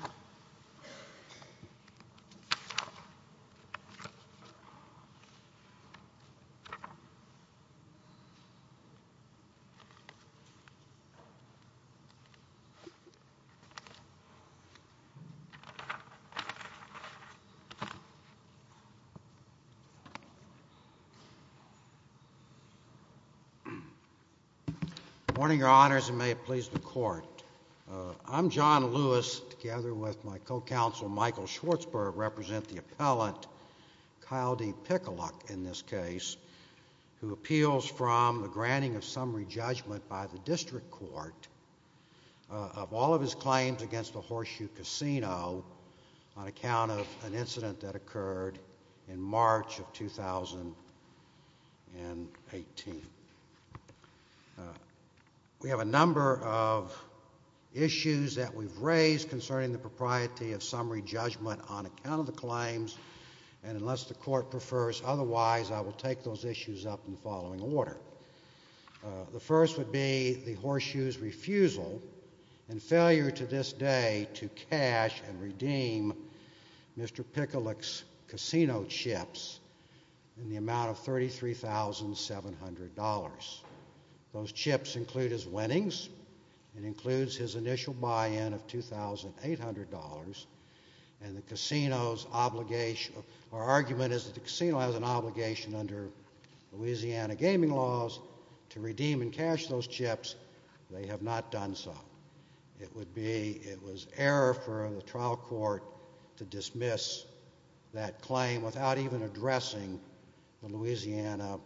al. Good morning, your honors, and may it please the court. I'm John Lewis, together with my co-counsel, Michael Schwartzberg, represent the appellant Kyle D. Pikaluk in this case, who appeals from the granting of summary judgment by the district court of all of his claims against the Horseshoe Casino on account of an incident that occurred in March of 2018. We have a number of issues that we've raised concerning the propriety of summary judgment on account of the claims, and unless the court prefers otherwise, I will take those issues up in the following order. The first would be the Horseshoe's refusal and failure to this day to cash and redeem Mr. Pikaluk's casino chips in the amount of $33,700. Those chips include his winnings, it includes his initial buy-in of $2,800, and the casino's obligation—our argument is that the casino has an obligation under Louisiana gaming laws to redeem and cash those chips. They have not done so. It would be—it was error for the trial court to dismiss that claim without even addressing the Louisiana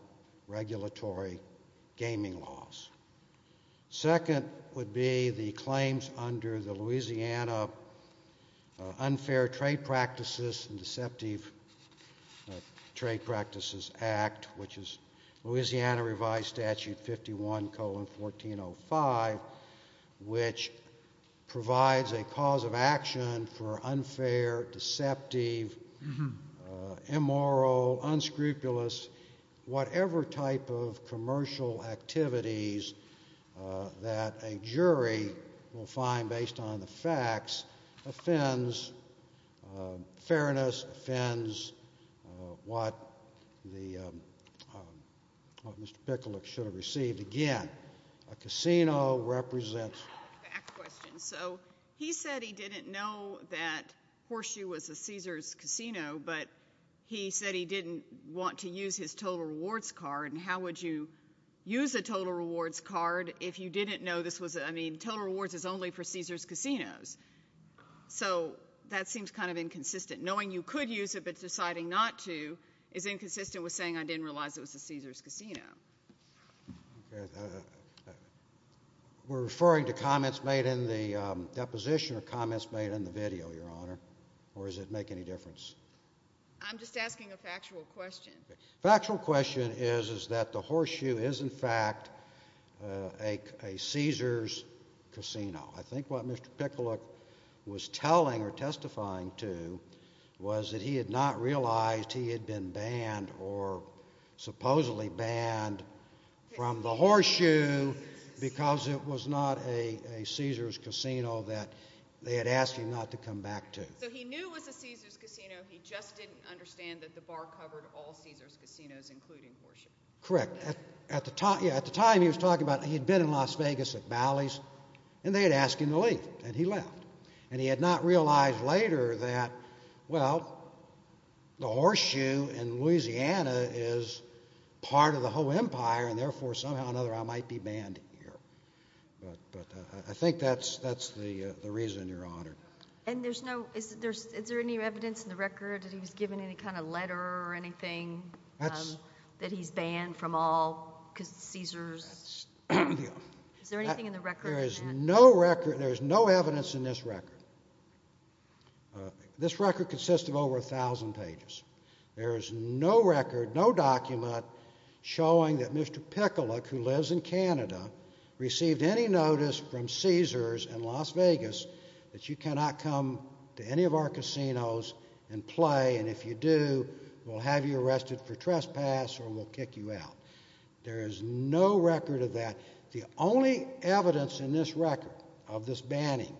regulatory gaming laws. Second would be the claims under the Louisiana Unfair Trade Practices and Deceptive Trade Act, which provides a cause of action for unfair, deceptive, immoral, unscrupulous, whatever type of commercial activities that a jury will find based on the facts, offends fairness, offends what the—what Mr. Pikaluk should have received. And again, a casino represents— Back question. So he said he didn't know that Horseshoe was a Caesars casino, but he said he didn't want to use his total rewards card, and how would you use a total rewards card if you didn't know this was—I mean, total rewards is only for Caesars casinos. So that seems kind of inconsistent. Knowing you could use it but deciding not to is inconsistent with saying I didn't realize it was a Caesars casino. We're referring to comments made in the deposition or comments made in the video, Your Honor, or does it make any difference? I'm just asking a factual question. Factual question is, is that the Horseshoe is, in fact, a Caesars casino. I think what Mr. Pikaluk was telling or testifying to was that he had not realized he had been supposedly banned from the Horseshoe because it was not a Caesars casino that they had asked him not to come back to. So he knew it was a Caesars casino, he just didn't understand that the bar covered all Caesars casinos, including Horseshoe. Correct. At the time, he was talking about he had been in Las Vegas at Bally's, and they had asked him to leave, and he left. And he had not realized later that, well, the Horseshoe in Louisiana is part of the whole empire, and therefore, somehow or another, I might be banned here. But I think that's the reason, Your Honor. And there's no, is there any evidence in the record that he was given any kind of letter or anything that he's banned from all Caesars? Is there anything in the record? There is no record, there is no evidence in this record. This record consists of over a thousand pages. There is no record, no document showing that Mr. Pickalick, who lives in Canada, received any notice from Caesars in Las Vegas that you cannot come to any of our casinos and play, and if you do, we'll have you arrested for trespass or we'll kick you out. There is no record of that. The only evidence in this record of this banning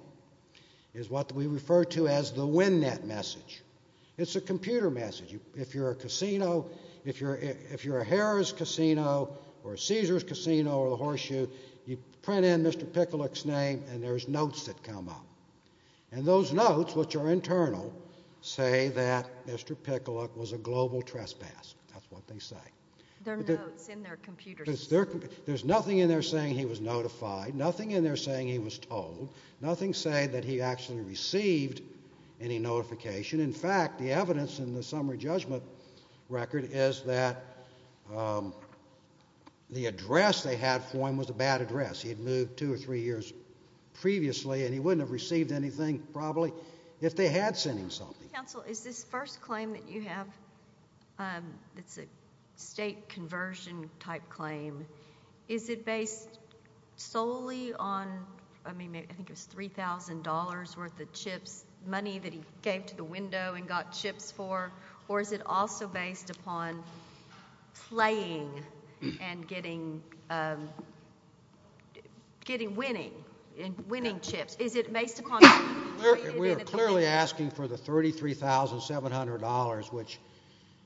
is what we refer to as the wind-net message. It's a computer message. If you're a casino, if you're a Harrah's Casino or a Caesars Casino or the Horseshoe, you print in Mr. Pickalick's name and there's notes that come up. And those notes, which are internal, say that Mr. Pickalick was a global trespass, that's what they say. There are notes in their computers. There's nothing in there saying he was notified, nothing in there saying he was told, nothing saying that he actually received any notification. In fact, the evidence in the summary judgment record is that the address they had for him was a bad address. He had moved two or three years previously and he wouldn't have received anything probably if they had sent him something. Mr. Counsel, is this first claim that you have, it's a state conversion type claim, is it based solely on, I mean, I think it was $3,000 worth of chips, money that he gave to the window and got chips for, or is it also based upon slaying and getting, winning chips? Is it based upon... We are clearly asking for the $33,700, which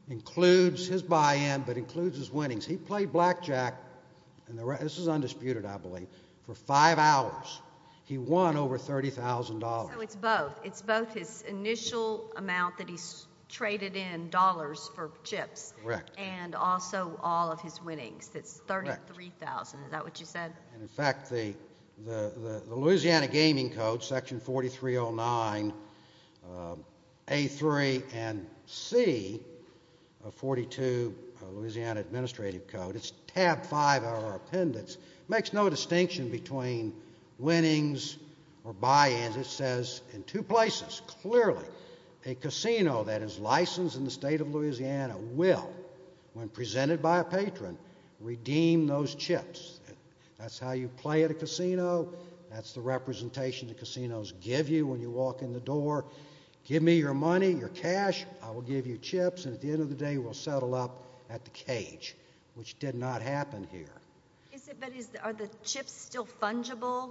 includes his buy-in, but includes his winnings. He played blackjack, and this is undisputed, I believe, for five hours. He won over $30,000. So it's both. It's both his initial amount that he's traded in dollars for chips and also all of his winnings. That's $33,000, is that what you said? In fact, the Louisiana Gaming Code, Section 4309A3 and C of 42 Louisiana Administrative Code, it's tab five of our appendix, makes no distinction between winnings or buy-ins. It says in two places, clearly, a casino that is licensed in the state of Louisiana will, when presented by a patron, redeem those chips. That's how you play at a casino. That's the representation the casinos give you when you walk in the door. Give me your money, your cash, I will give you chips, and at the end of the day, we'll settle up at the cage, which did not happen here. But are the chips still fungible?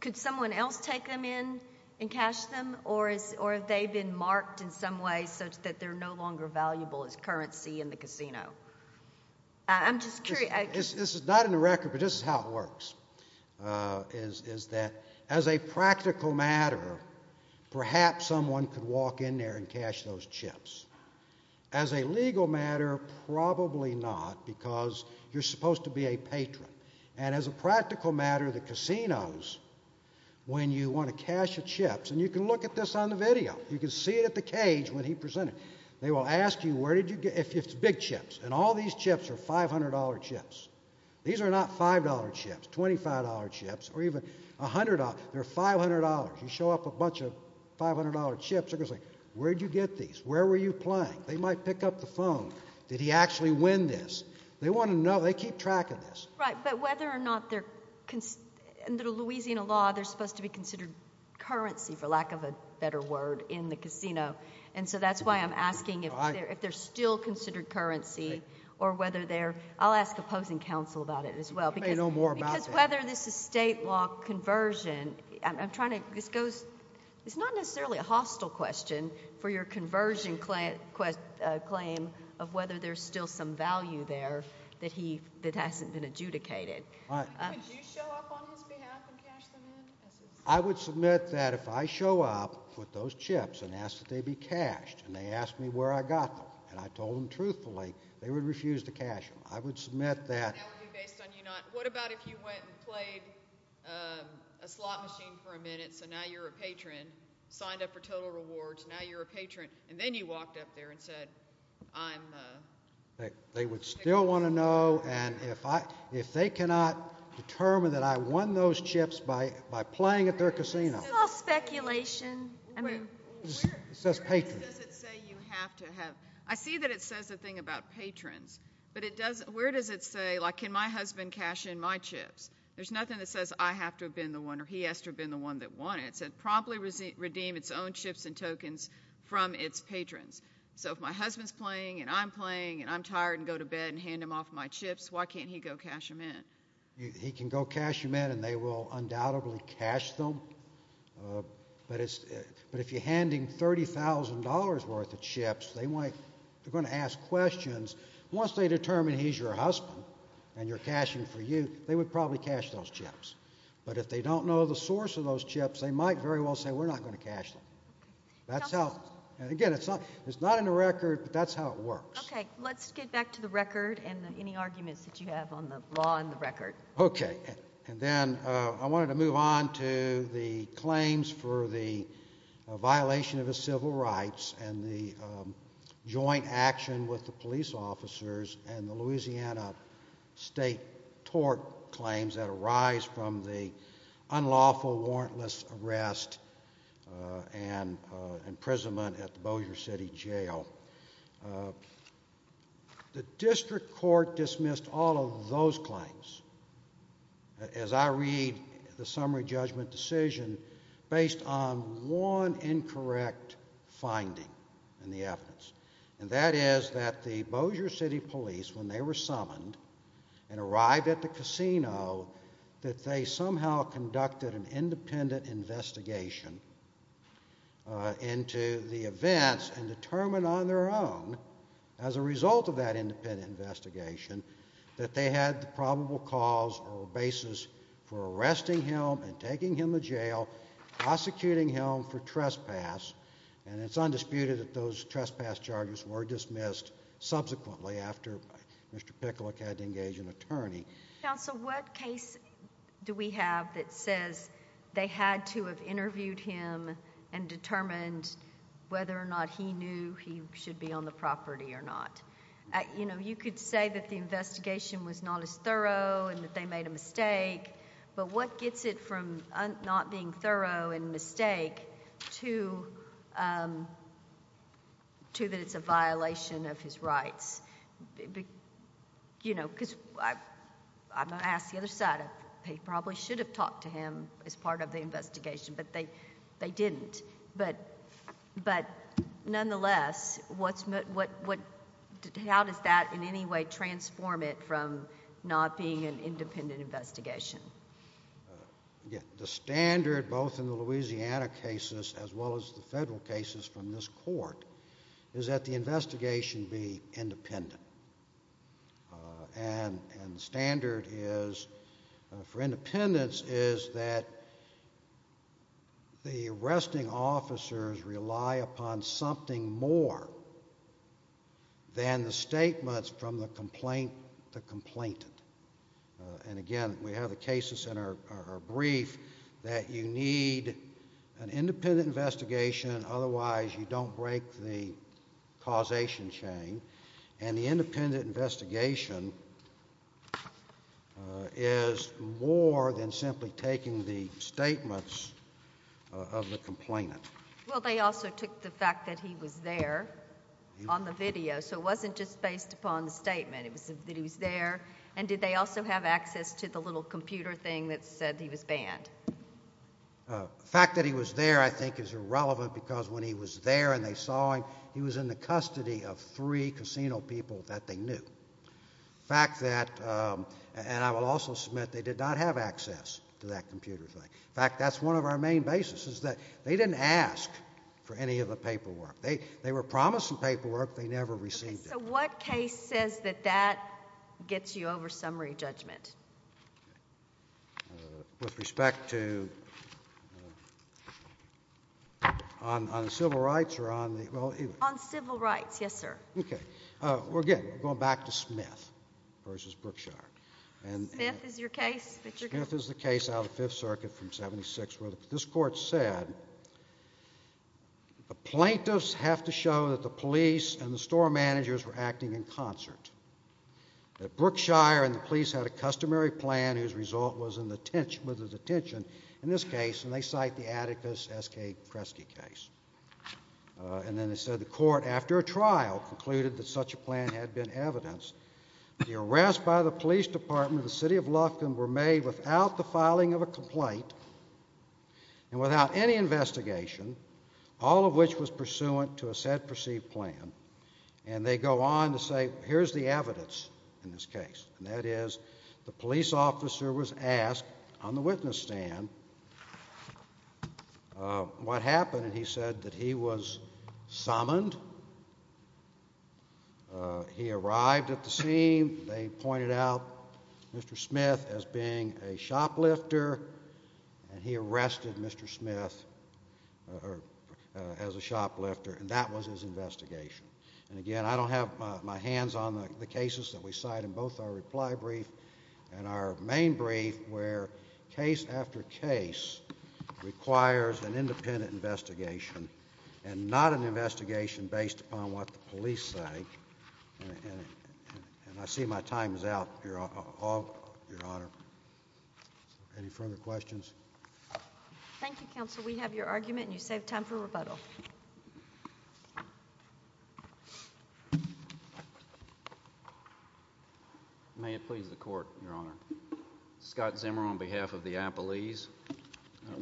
Could someone else take them in and cash them, or have they been marked in some way so that they're no longer valuable as currency in the casino? I'm just curious. This is not in the record, but this is how it works, is that as a practical matter, perhaps someone could walk in there and cash those chips. As a legal matter, probably not, because you're supposed to be a patron. And as a practical matter, the casinos, when you want to cash the chips, and you can look at this on the video, you can see it at the cage when he presented it. They will ask you, where did you get, if it's big chips, and all these chips are $500 chips. These are not $5 chips, $25 chips, or even $100, they're $500. You show up a bunch of $500 chips, they're going to say, where did you get these? Where were you playing? They might pick up the phone, did he actually win this? They want to know, they keep track of this. Right, but whether or not they're, under Louisiana law, they're supposed to be considered currency, for lack of a better word, in the casino. And so that's why I'm asking if they're still considered currency, or whether they're, I'll ask opposing counsel about it as well, because whether this is state law conversion, I'm trying to, this goes, it's not necessarily a hostile question for your conversion claim of whether there's still some value there that hasn't been adjudicated. Would you show up on his behalf and cash them in? I would submit that if I show up with those chips and ask that they be cashed, and they ask me where I got them, and I told them truthfully, they would refuse to cash them. I would submit that. And that would be based on you not, what about if you went and played a slot machine for a minute, so now you're a patron, signed up for total rewards, now you're a patron, and then you walked up there and said, I'm, uh. They would still want to know, and if I, if they cannot determine that I won those chips by, by playing at their casino. It's all speculation. I mean. It says patron. Does it say you have to have, I see that it says a thing about patrons, but it doesn't, where does it say, like, can my husband cash in my chips? There's nothing that says I have to have been the one, or he has to have been the one that won it. It said promptly redeem its own chips and tokens from its patrons. So if my husband's playing, and I'm playing, and I'm tired and go to bed and hand him off my chips, why can't he go cash them in? He can go cash them in, and they will undoubtedly cash them, uh, but it's, but if you're handing $30,000 worth of chips, they might, they're going to ask questions. Once they determine he's your husband, and you're cashing for you, they would probably cash those chips, but if they don't know the source of those chips, they might very well say we're not going to cash them. That's how, and again, it's not, it's not in the record, but that's how it works. Okay. Let's get back to the record and any arguments that you have on the law and the record. Okay. And then, uh, I wanted to move on to the claims for the violation of the civil rights and the, um, joint action with the police officers and the Louisiana state tort claims that arise from the unlawful warrantless arrest, uh, and, uh, imprisonment at the Bossier City jail. Uh, the district court dismissed all of those claims as I read the summary judgment decision based on one incorrect finding in the evidence, and that is that the Bossier City police, when they were summoned and arrived at the casino, that they somehow conducted an independent investigation, uh, into the events and determined on their own as a result of that independent investigation, that they had the probable cause or basis for arresting him and taking him to jail, prosecuting him for trespass, and it's undisputed that those trespass charges were dismissed subsequently after Mr. Picklock had to engage an attorney. Counsel, what case do we have that says they had to have interviewed him and determined whether or not he knew he should be on the property or not? Uh, you know, you could say that the investigation was not as thorough and that they made a mistake, but what gets it from not being thorough and mistake to, um, to that it's a violation of his rights? You know, because I, I'm going to ask the other side, they probably should have talked to him as part of the investigation, but they, they didn't, but, but nonetheless, what's the, what, what, how does that in any way transform it from not being an independent investigation? Uh, again, the standard both in the Louisiana cases as well as the federal cases from this court is that the investigation be independent, uh, and, and standard is, uh, for independence is that the arresting officers rely upon something more than the statements from the complaint, the complainant, uh, and again, we have the cases in our, our, our brief that you need an independent investigation, otherwise you don't break the causation chain, and the case is simply taking the statements, uh, of the complainant. Well, they also took the fact that he was there on the video, so it wasn't just based upon the statement. It was that he was there, and did they also have access to the little computer thing that said he was banned? Uh, the fact that he was there, I think, is irrelevant because when he was there and they saw him, he was in the custody of three casino people that they knew. The fact that, um, and I will also submit they did not have access to that computer thing. In fact, that's one of our main bases is that they didn't ask for any of the paperwork. They, they were promised some paperwork. They never received it. Okay. So what case says that that gets you over summary judgment? Uh, with respect to, uh, on, on civil rights or on the, well, either. On civil rights. Yes, sir. Okay. Okay. Uh, we're good. We're going back to Smith versus Brookshire. And. Smith is your case? Smith is the case out of the Fifth Circuit from 76, where this court said the plaintiffs have to show that the police and the store managers were acting in concert, that Brookshire and the police had a customary plan whose result was in the, was a detention in this case, and they cite the Atticus S.K. Kresge case, uh, and then they said the court after a trial concluded that such a plan had been evidenced. The arrest by the police department of the city of Lufkin were made without the filing of a complaint and without any investigation, all of which was pursuant to a said perceived plan. And they go on to say, here's the evidence in this case, and that is the police officer was asked on the witness stand, uh, what happened, and he said that he was summoned. Uh, he arrived at the scene. They pointed out Mr. Smith as being a shoplifter, and he arrested Mr. Smith, uh, as a shoplifter, and that was his investigation. And again, I don't have, uh, my hands on the, the cases that we cite in both our reply brief and our main brief where case after case requires an independent investigation and not an investigation based upon what the police say, and, and, and I see my time is out here, uh, uh, all, Your Honor. Any further questions? Thank you, Counsel. We have your argument, and you saved time for rebuttal. May it please the Court. Your Honor. Scott Zimmer on behalf of the Appellees.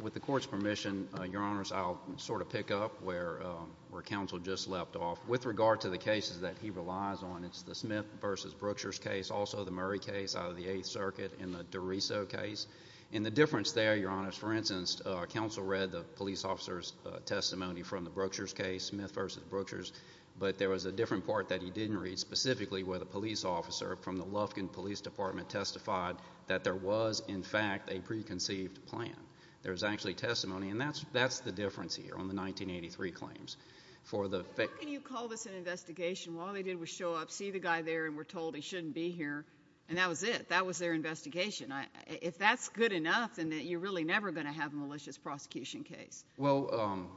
With the Court's permission, uh, Your Honors, I'll sort of pick up where, uh, where Counsel just leapt off. With regard to the cases that he relies on, it's the Smith v. Brooksher's case, also the Murray case out of the Eighth Circuit, and the DiRiso case. And the difference there, Your Honors, for instance, uh, Counsel read the police officer's, uh, testimony from the Brooksher's case, Smith v. Brooksher's, but there was a different part that he didn't read specifically where the police officer from the Lufkin Police Department testified that there was, in fact, a preconceived plan. There's actually testimony, and that's, that's the difference here on the 1983 claims. For the fact— How can you call this an investigation? All they did was show up, see the guy there, and were told he shouldn't be here, and that was it. That was their investigation. I, if that's good enough, then you're really never going to have a malicious prosecution case. Well, um,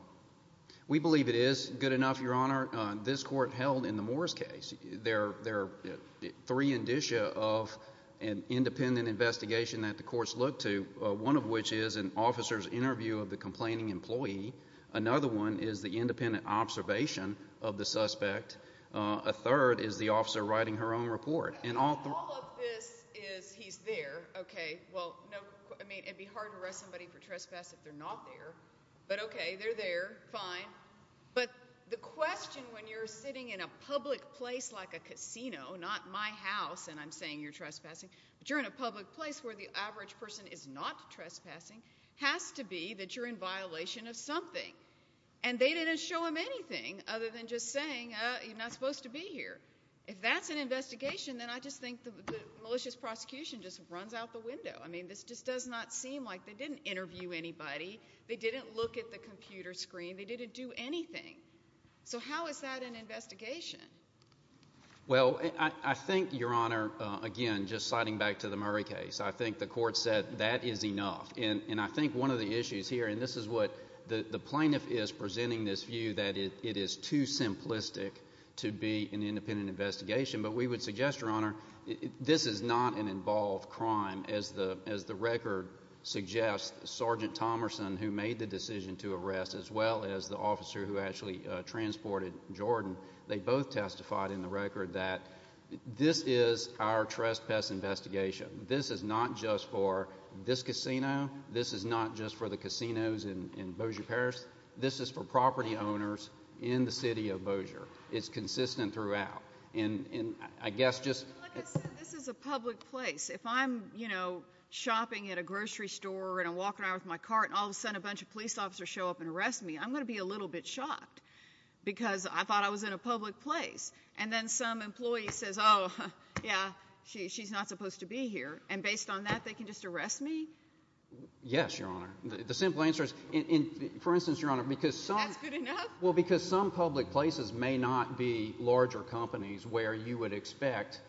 we believe it is good enough, Your Honor. Uh, this Court held in the Morris case. There, there are three indicia of an independent investigation that the courts look to, uh, one of which is an officer's interview of the complaining employee. Another one is the independent observation of the suspect. Uh, a third is the officer writing her own report. And all— All of this is, he's there, okay. Well, no, I mean, it'd be hard to arrest somebody for trespass if they're not there. But okay, they're there, fine. But the question when you're sitting in a public place like a casino, not my house and I'm saying you're trespassing, but you're in a public place where the average person is not trespassing, has to be that you're in violation of something. And they didn't show him anything other than just saying, uh, you're not supposed to be here. If that's an investigation, then I just think the, the malicious prosecution just runs out the window. I mean, this just does not seem like they didn't interview anybody, they didn't look at the computer screen, they didn't do anything. So how is that an investigation? Well, I think, Your Honor, again, just sliding back to the Murray case, I think the court said that is enough. And I think one of the issues here, and this is what the plaintiff is presenting this view that it is too simplistic to be an independent investigation. But we would suggest, Your Honor, this is not an involved crime as the record suggests. Sergeant Thomerson, who made the decision to arrest, as well as the officer who actually transported Jordan, they both testified in the record that this is our trespass investigation. This is not just for this casino. This is not just for the casinos in, in Bossier Parish. This is for property owners in the city of Bossier. It's consistent throughout. And I guess just, this is a public place. If I'm, you know, shopping at a grocery store, and I'm walking around with my cart, and all of a sudden a bunch of police officers show up and arrest me, I'm going to be a little bit shocked. Because I thought I was in a public place. And then some employee says, oh, yeah, she's not supposed to be here. And based on that, they can just arrest me? Yes, Your Honor. The simple answer is, for instance, Your Honor, because some... That's good enough? Well, because some public places may not be larger companies where you would expect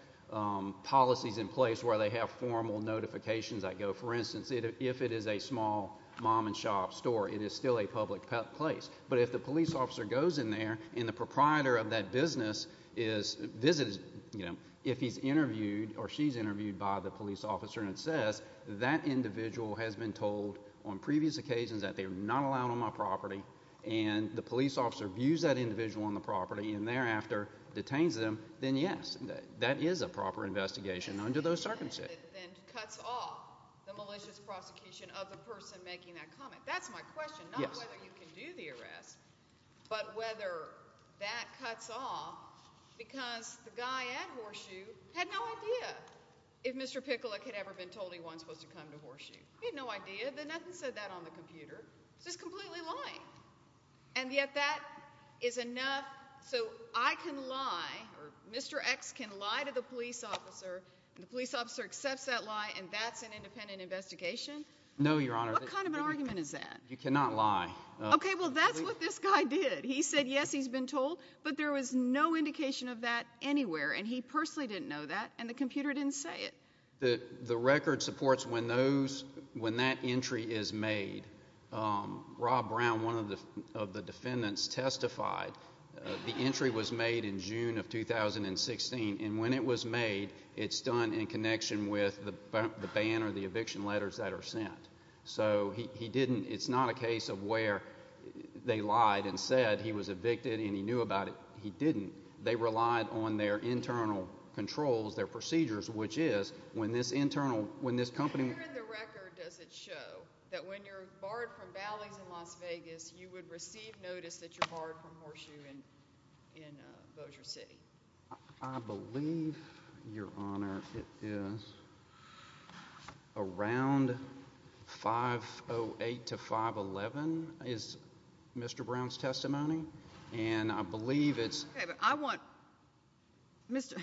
policies in place where they have formal notifications that go, for instance, if it is a small mom and shop store, it is still a public place. But if the police officer goes in there, and the proprietor of that business is, visits, you know, if he's interviewed, or she's interviewed by the police officer, and it says that individual has been told on previous occasions that they're not allowed on my property, and the police officer views that individual on the property, and thereafter detains them, then yes, that is a proper investigation under those circumstances. And cuts off the malicious prosecution of the person making that comment. That's my question. Yes. Not whether you can do the arrest, but whether that cuts off, because the guy at Horseshoe had no idea if Mr. Pikulik had ever been told he wasn't supposed to come to Horseshoe. He had no idea. Then nothing said that on the computer. It's just completely lying. And yet that is enough, so I can lie, or Mr. X can lie to the police officer, and the police officer accepts that lie, and that's an independent investigation? No, Your Honor. What kind of an argument is that? You cannot lie. Okay, well, that's what this guy did. He said, yes, he's been told, but there was no indication of that anywhere, and he personally didn't know that, and the computer didn't say it. The record supports when that entry is made. Rob Brown, one of the defendants, testified the entry was made in June of 2016, and when it was made, it's done in connection with the ban or the eviction letters that are sent. So it's not a case of where they lied and said he was evicted and he knew about it. He didn't. They relied on their internal controls, their procedures, which is when this internal, when this company... Where in the record does it show that when you're barred from Bally's in Las Vegas, you would receive notice that you're barred from Horseshoe in Bossier City? I believe, Your Honor, it is around 508 to 511 is Mr. Brown's testimony, and I believe it's... Okay, but I want... Mr.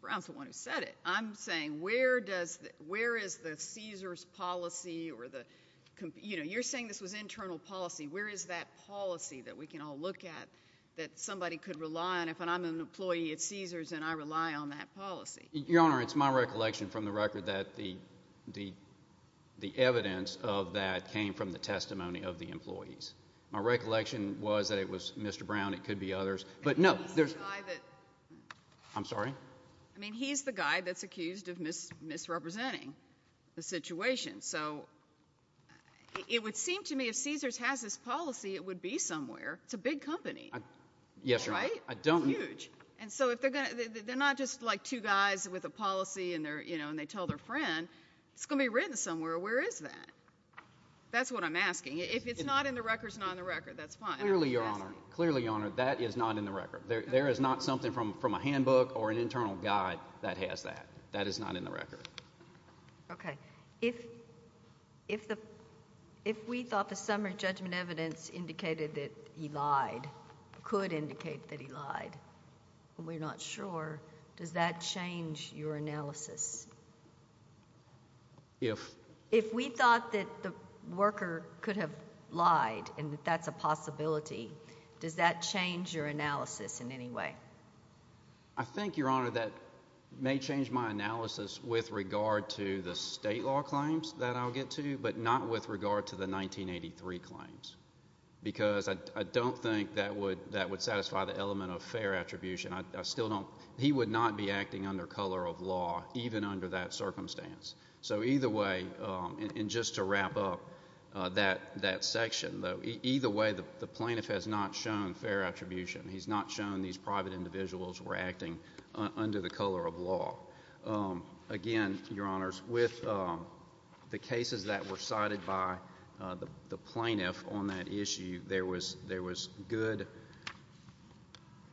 Brown's the one who said it. I'm saying where is the Caesars policy or the... You're saying this was internal policy. Where is that policy that we can all look at that somebody could rely on if I'm an employee at Caesars and I rely on that policy? Your Honor, it's my recollection from the record that the evidence of that came from the testimony of the employees. My recollection was that it was Mr. Brown, it could be others, but no, there's... He's the guy that... I'm sorry? I mean, he's the guy that's accused of misrepresenting the situation, so it would seem to me if Caesars has this policy, it would be somewhere. It's a big company. Yes, Your Honor. Right? I don't... Huge. And so if they're going to... They're not just like two guys with a policy and they tell their friend. It's going to be written somewhere. Where is that? That's what I'm asking. If it's not in the records and on the record, that's fine. Clearly, Your Honor. Clearly, Your Honor, that is not in the record. There is not something from a handbook or an internal guide that has that. That is not in the record. Okay. If we thought the summary judgment evidence indicated that he lied, could indicate that he lied, and we're not sure, does that change your analysis? If... If he lied and that's a possibility, does that change your analysis in any way? I think, Your Honor, that may change my analysis with regard to the state law claims that I'll get to, but not with regard to the 1983 claims, because I don't think that would satisfy the element of fair attribution. I still don't... He would not be acting under color of law, even under that circumstance. So either way, and just to wrap up that section, either way, the plaintiff has not shown fair attribution. He's not shown these private individuals were acting under the color of law. Again, Your Honors, with the cases that were cited by the plaintiff on that issue, there was good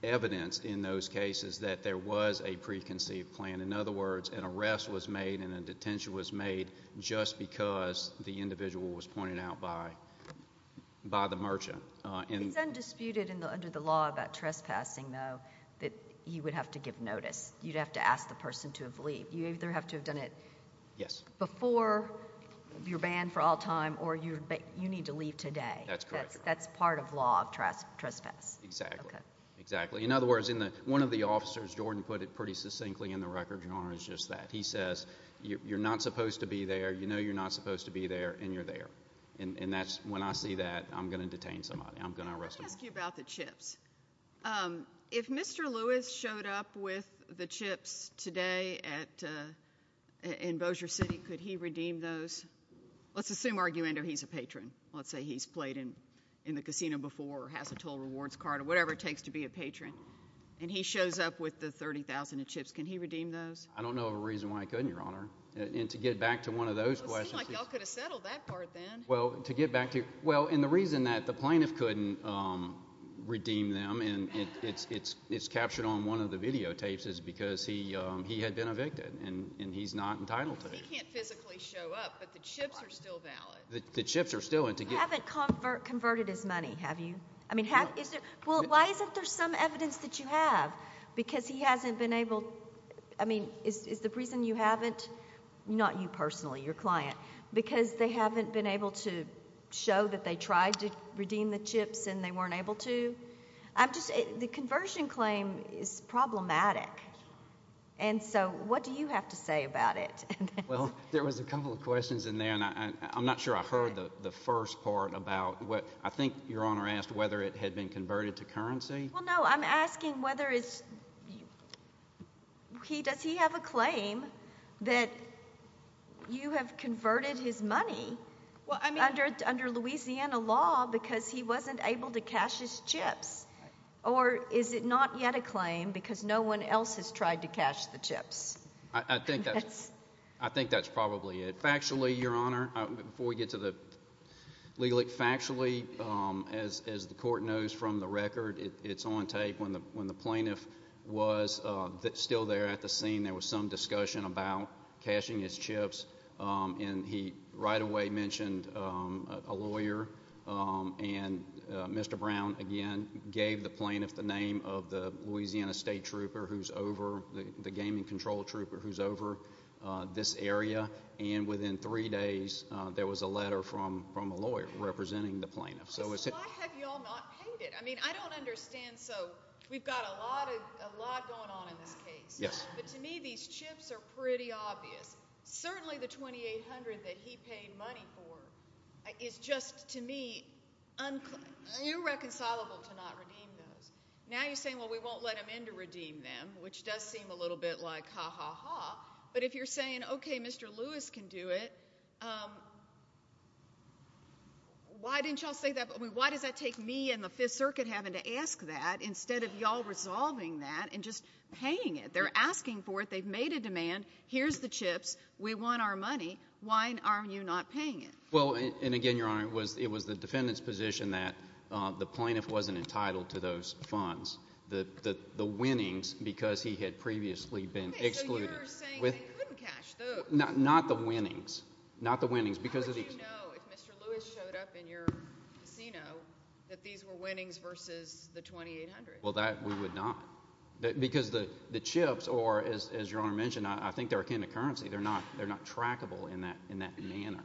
evidence in those cases that there was a preconceived plan. In other words, an arrest was made and a detention was made just because the individual was pointed out by the merchant. It's undisputed under the law about trespassing, though, that he would have to give notice. You'd have to ask the person to have leaved. You either have to have done it... Yes.... before you're banned for all time, or you need to leave today. That's correct. That's part of law of trespass. Exactly. Okay. Exactly. In other words, one of the officers, Jordan, put it pretty succinctly in the record, Your Honor, is just that. He says, you're not supposed to be there, you know you're not supposed to be there, and you're there. And that's... when I see that, I'm going to detain somebody. I'm going to arrest somebody. Let me ask you about the chips. If Mr. Lewis showed up with the chips today in Bossier City, could he redeem those? Let's assume, argumentatively, he's a patron. Let's say he's played in the casino before or has a total rewards card or whatever it is. And he shows up with the $30,000 in chips. Can he redeem those? I don't know of a reason why he couldn't, Your Honor, and to get back to one of those questions... It would seem like y'all could have settled that part then. Well, to get back to... well, and the reason that the plaintiff couldn't redeem them, and it's captured on one of the videotapes, is because he had been evicted, and he's not entitled to it. He can't physically show up, but the chips are still valid. The chips are still... You haven't converted his money, have you? No. Well, why isn't there some evidence that you have? Because he hasn't been able... I mean, is the reason you haven't... not you personally, your client. Because they haven't been able to show that they tried to redeem the chips and they weren't able to? I'm just... the conversion claim is problematic. And so, what do you have to say about it? Well, there was a couple of questions in there, and I'm not sure I heard the first part about what... I think Your Honor asked whether it had been converted to currency. Well, no, I'm asking whether it's... does he have a claim that you have converted his money under Louisiana law because he wasn't able to cash his chips? Or is it not yet a claim because no one else has tried to cash the chips? I think that's probably it. Factually, Your Honor, before we get to the... legally, factually, as the court knows from the record, it's on tape when the plaintiff was still there at the scene, there was some discussion about cashing his chips, and he right away mentioned a lawyer, and Mr. Brown again gave the plaintiff the name of the Louisiana State Trooper who's over... the gaming there was a letter from a lawyer representing the plaintiff. So is it... Why have you all not paid it? I mean, I don't understand. So, we've got a lot going on in this case. Yes. But to me, these chips are pretty obvious. Certainly, the $2,800 that he paid money for is just, to me, irreconcilable to not redeem those. Now you're saying, well, we won't let him in to redeem them, which does seem a little bit like ha, ha, ha. But if you're saying, okay, Mr. Lewis can do it, why didn't y'all say that... I mean, why does that take me and the Fifth Circuit having to ask that instead of y'all resolving that and just paying it? They're asking for it. They've made a demand. Here's the chips. We want our money. Why are you not paying it? Well, and again, Your Honor, it was the defendant's position that the plaintiff wasn't entitled to those funds, the winnings, because he had previously been excluded. Okay, so you're saying they couldn't cash those. Not the winnings. Not the winnings. How would you know if Mr. Lewis showed up in your casino that these were winnings versus the $2,800? Well, that we would not. Because the chips, or as Your Honor mentioned, I think they're a kind of currency. They're not trackable in that manner.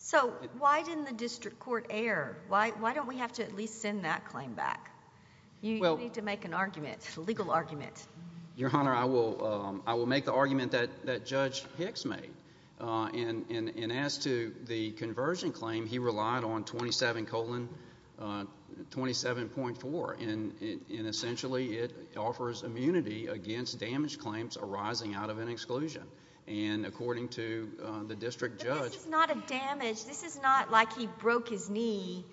So why didn't the district court err? Why don't we have to at least send that claim back? You need to make an argument, a legal argument. Your Honor, I will make the argument that Judge Hicks made. And as to the conversion claim, he relied on 27 colon 27.4, and essentially it offers immunity against damage claims arising out of an exclusion. And according to the district judge... But this is not a damage. This is not like he broke his knee,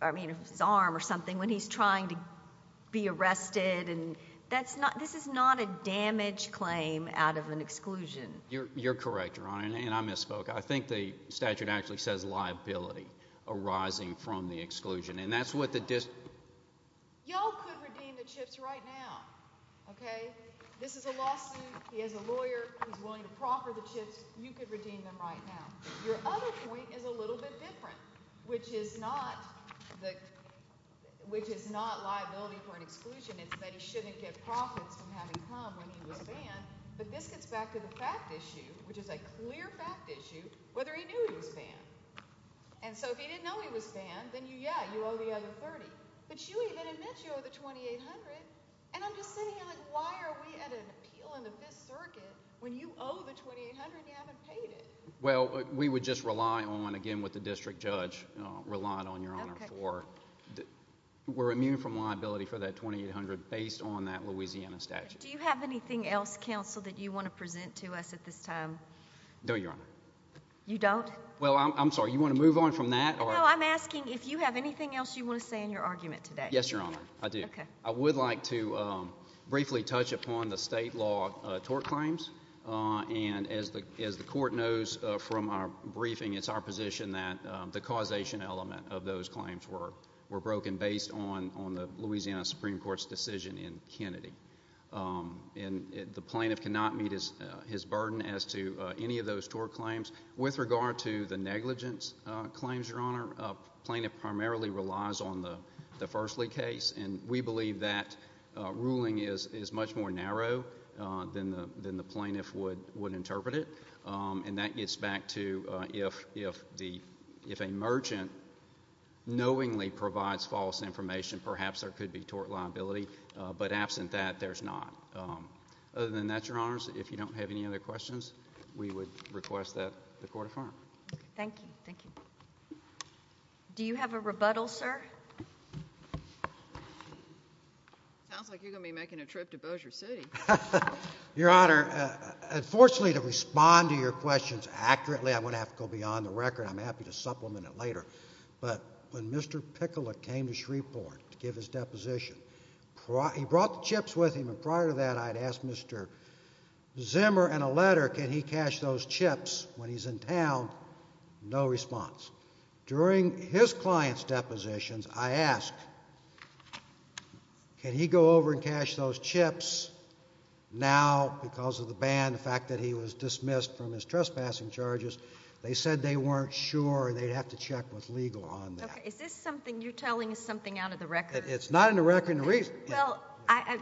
I mean his arm or something, when he's trying to be arrested. This is not a damage claim out of an exclusion. You're correct, Your Honor. And I misspoke. I think the statute actually says liability arising from the exclusion. And that's what the district... Y'all could redeem the chips right now. Okay? This is a lawsuit. He has a lawyer. He's willing to proffer the chips. You could redeem them right now. Your other point is a little bit different, which is not liability for an exclusion. It's that he shouldn't get profits from having come when he was banned. But this gets back to the fact issue, which is a clear fact issue, whether he knew he was banned. And so if he didn't know he was banned, then yeah, you owe the other 30. But you even admit you owe the 2,800, and I'm just sitting here like, why are we at an appeal in the Fifth Circuit when you owe the 2,800 and you haven't paid it? Well, we would just rely on, again with the district judge, rely on, Your Honor, for... Yes, Your Honor... to make a decision in Kennedy. And the plaintiff cannot meet his burden as to any of those tort claims. With regard to the negligence claims, Your Honor, a plaintiff primarily relies on the Fersley case. And we believe that ruling is much more narrow than the plaintiff would interpret it. And that gets back to if a merchant knowingly provides false information, perhaps there is a liability, but absent that, there's not. Other than that, Your Honors, if you don't have any other questions, we would request that the Court affirm. Thank you. Do you have a rebuttal, sir? Sounds like you're going to be making a trip to Bossier City. Your Honor, unfortunately, to respond to your questions accurately, I'm going to have to go beyond the record. I'm happy to supplement it later. But when Mr. Pickelet came to Shreveport to give his deposition, he brought the chips with him. And prior to that, I'd asked Mr. Zimmer in a letter, can he cash those chips when he's in town? No response. During his client's depositions, I asked, can he go over and cash those chips now because of the ban, the fact that he was dismissed from his trespassing charges? They said they weren't sure, they'd have to check with legal on that. Is this something, you're telling us something out of the record? It's not in the record. Well,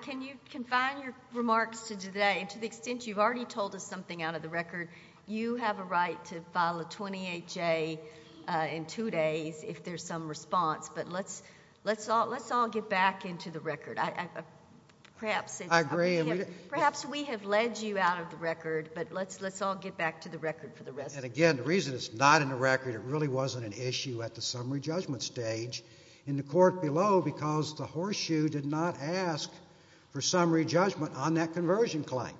can you confine your remarks to today, to the extent you've already told us something out of the record? You have a right to file a 28-J in two days if there's some response, but let's all get back into the record. I agree. Perhaps we have led you out of the record, but let's all get back to the record for the Again, the reason it's not in the record, it really wasn't an issue at the summary judgment stage in the court below because the horseshoe did not ask for summary judgment on that conversion claim.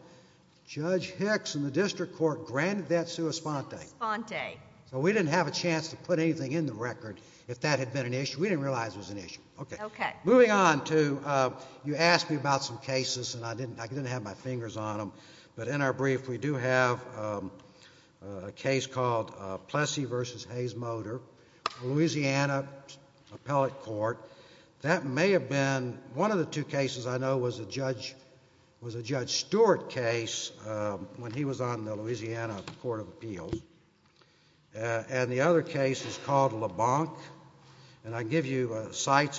Judge Hicks in the district court granted that sua sponte. Sponte. So we didn't have a chance to put anything in the record if that had been an issue. We didn't realize it was an issue. Okay. Okay. Moving on to, you asked me about some cases and I didn't have my fingers on them, but in our brief we do have a case called Plessy v. Hayes-Motor, Louisiana Appellate Court. That may have been, one of the two cases I know was a Judge Stewart case when he was on the Louisiana Court of Appeals, and the other case is called Labanque, and I give cited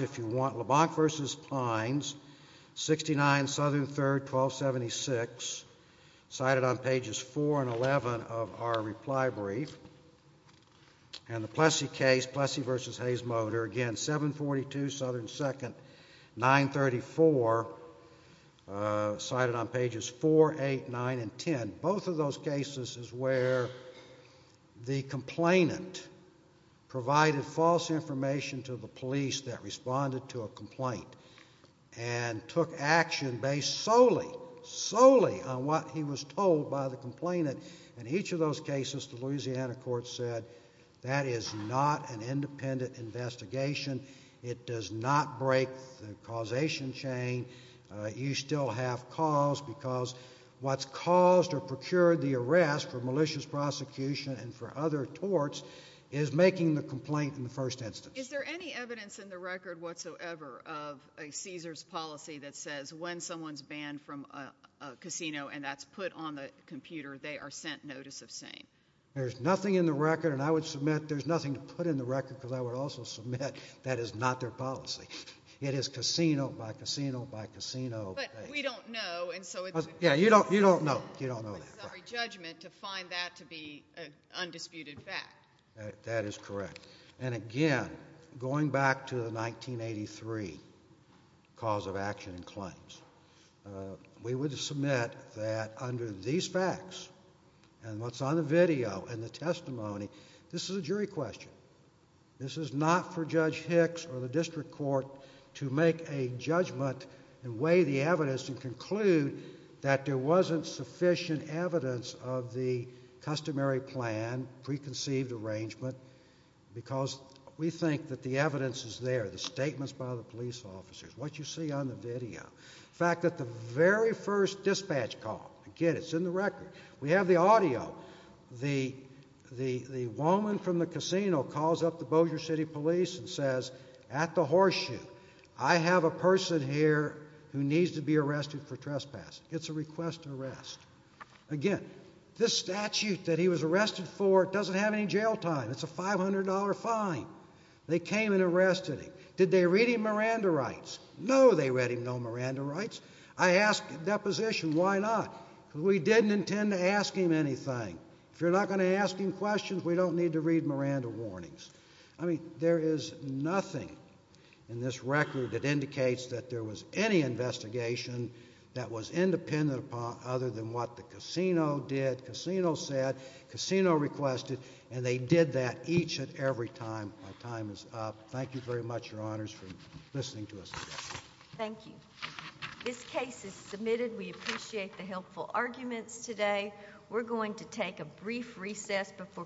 on pages 4 and 11 of our reply brief. And the Plessy case, Plessy v. Hayes-Motor, again, 742 Southern 2nd, 934, cited on pages 4, 8, 9, and 10. Both of those cases is where the complainant provided false information to the police that was told by the complainant. In each of those cases, the Louisiana Court said, that is not an independent investigation. It does not break the causation chain. You still have cause because what's caused or procured the arrest for malicious prosecution and for other torts is making the complaint in the first instance. Is there any evidence in the record whatsoever of a Caesar's policy that says when someone's reported on the computer, they are sent notice of same? There's nothing in the record, and I would submit there's nothing to put in the record because I would also submit that is not their policy. It is casino by casino by casino. But we don't know, and so it's- Yeah, you don't know. You don't know that, right. It's our judgment to find that to be an undisputed fact. That is correct. And again, going back to the 1983 cause of action and claims, we would submit that under these facts and what's on the video and the testimony, this is a jury question. This is not for Judge Hicks or the district court to make a judgment and weigh the evidence and conclude that there wasn't sufficient evidence of the customary plan, preconceived arrangement because we think that the evidence is there, the statements by the police officers, what you see on the video. In fact, at the very first dispatch call, again, it's in the record. We have the audio. The woman from the casino calls up the Bossier City Police and says, at the horseshoe, I have a person here who needs to be arrested for trespassing. It's a request to arrest. Again, this statute that he was arrested for doesn't have any jail time. It's a $500 fine. They came and arrested him. Did they read him Miranda rights? No, they read him no Miranda rights. I asked the deposition, why not? We didn't intend to ask him anything. If you're not going to ask him questions, we don't need to read Miranda warnings. I mean, there is nothing in this record that indicates that there was any investigation that was independent other than what the casino did, casino said, casino requested, and they did that each and every time. My time is up. Thank you very much, Your Honors, for listening to us today. Thank you. This case is submitted. We appreciate the helpful arguments today. We're going to take a brief recess before continuing with the hearing.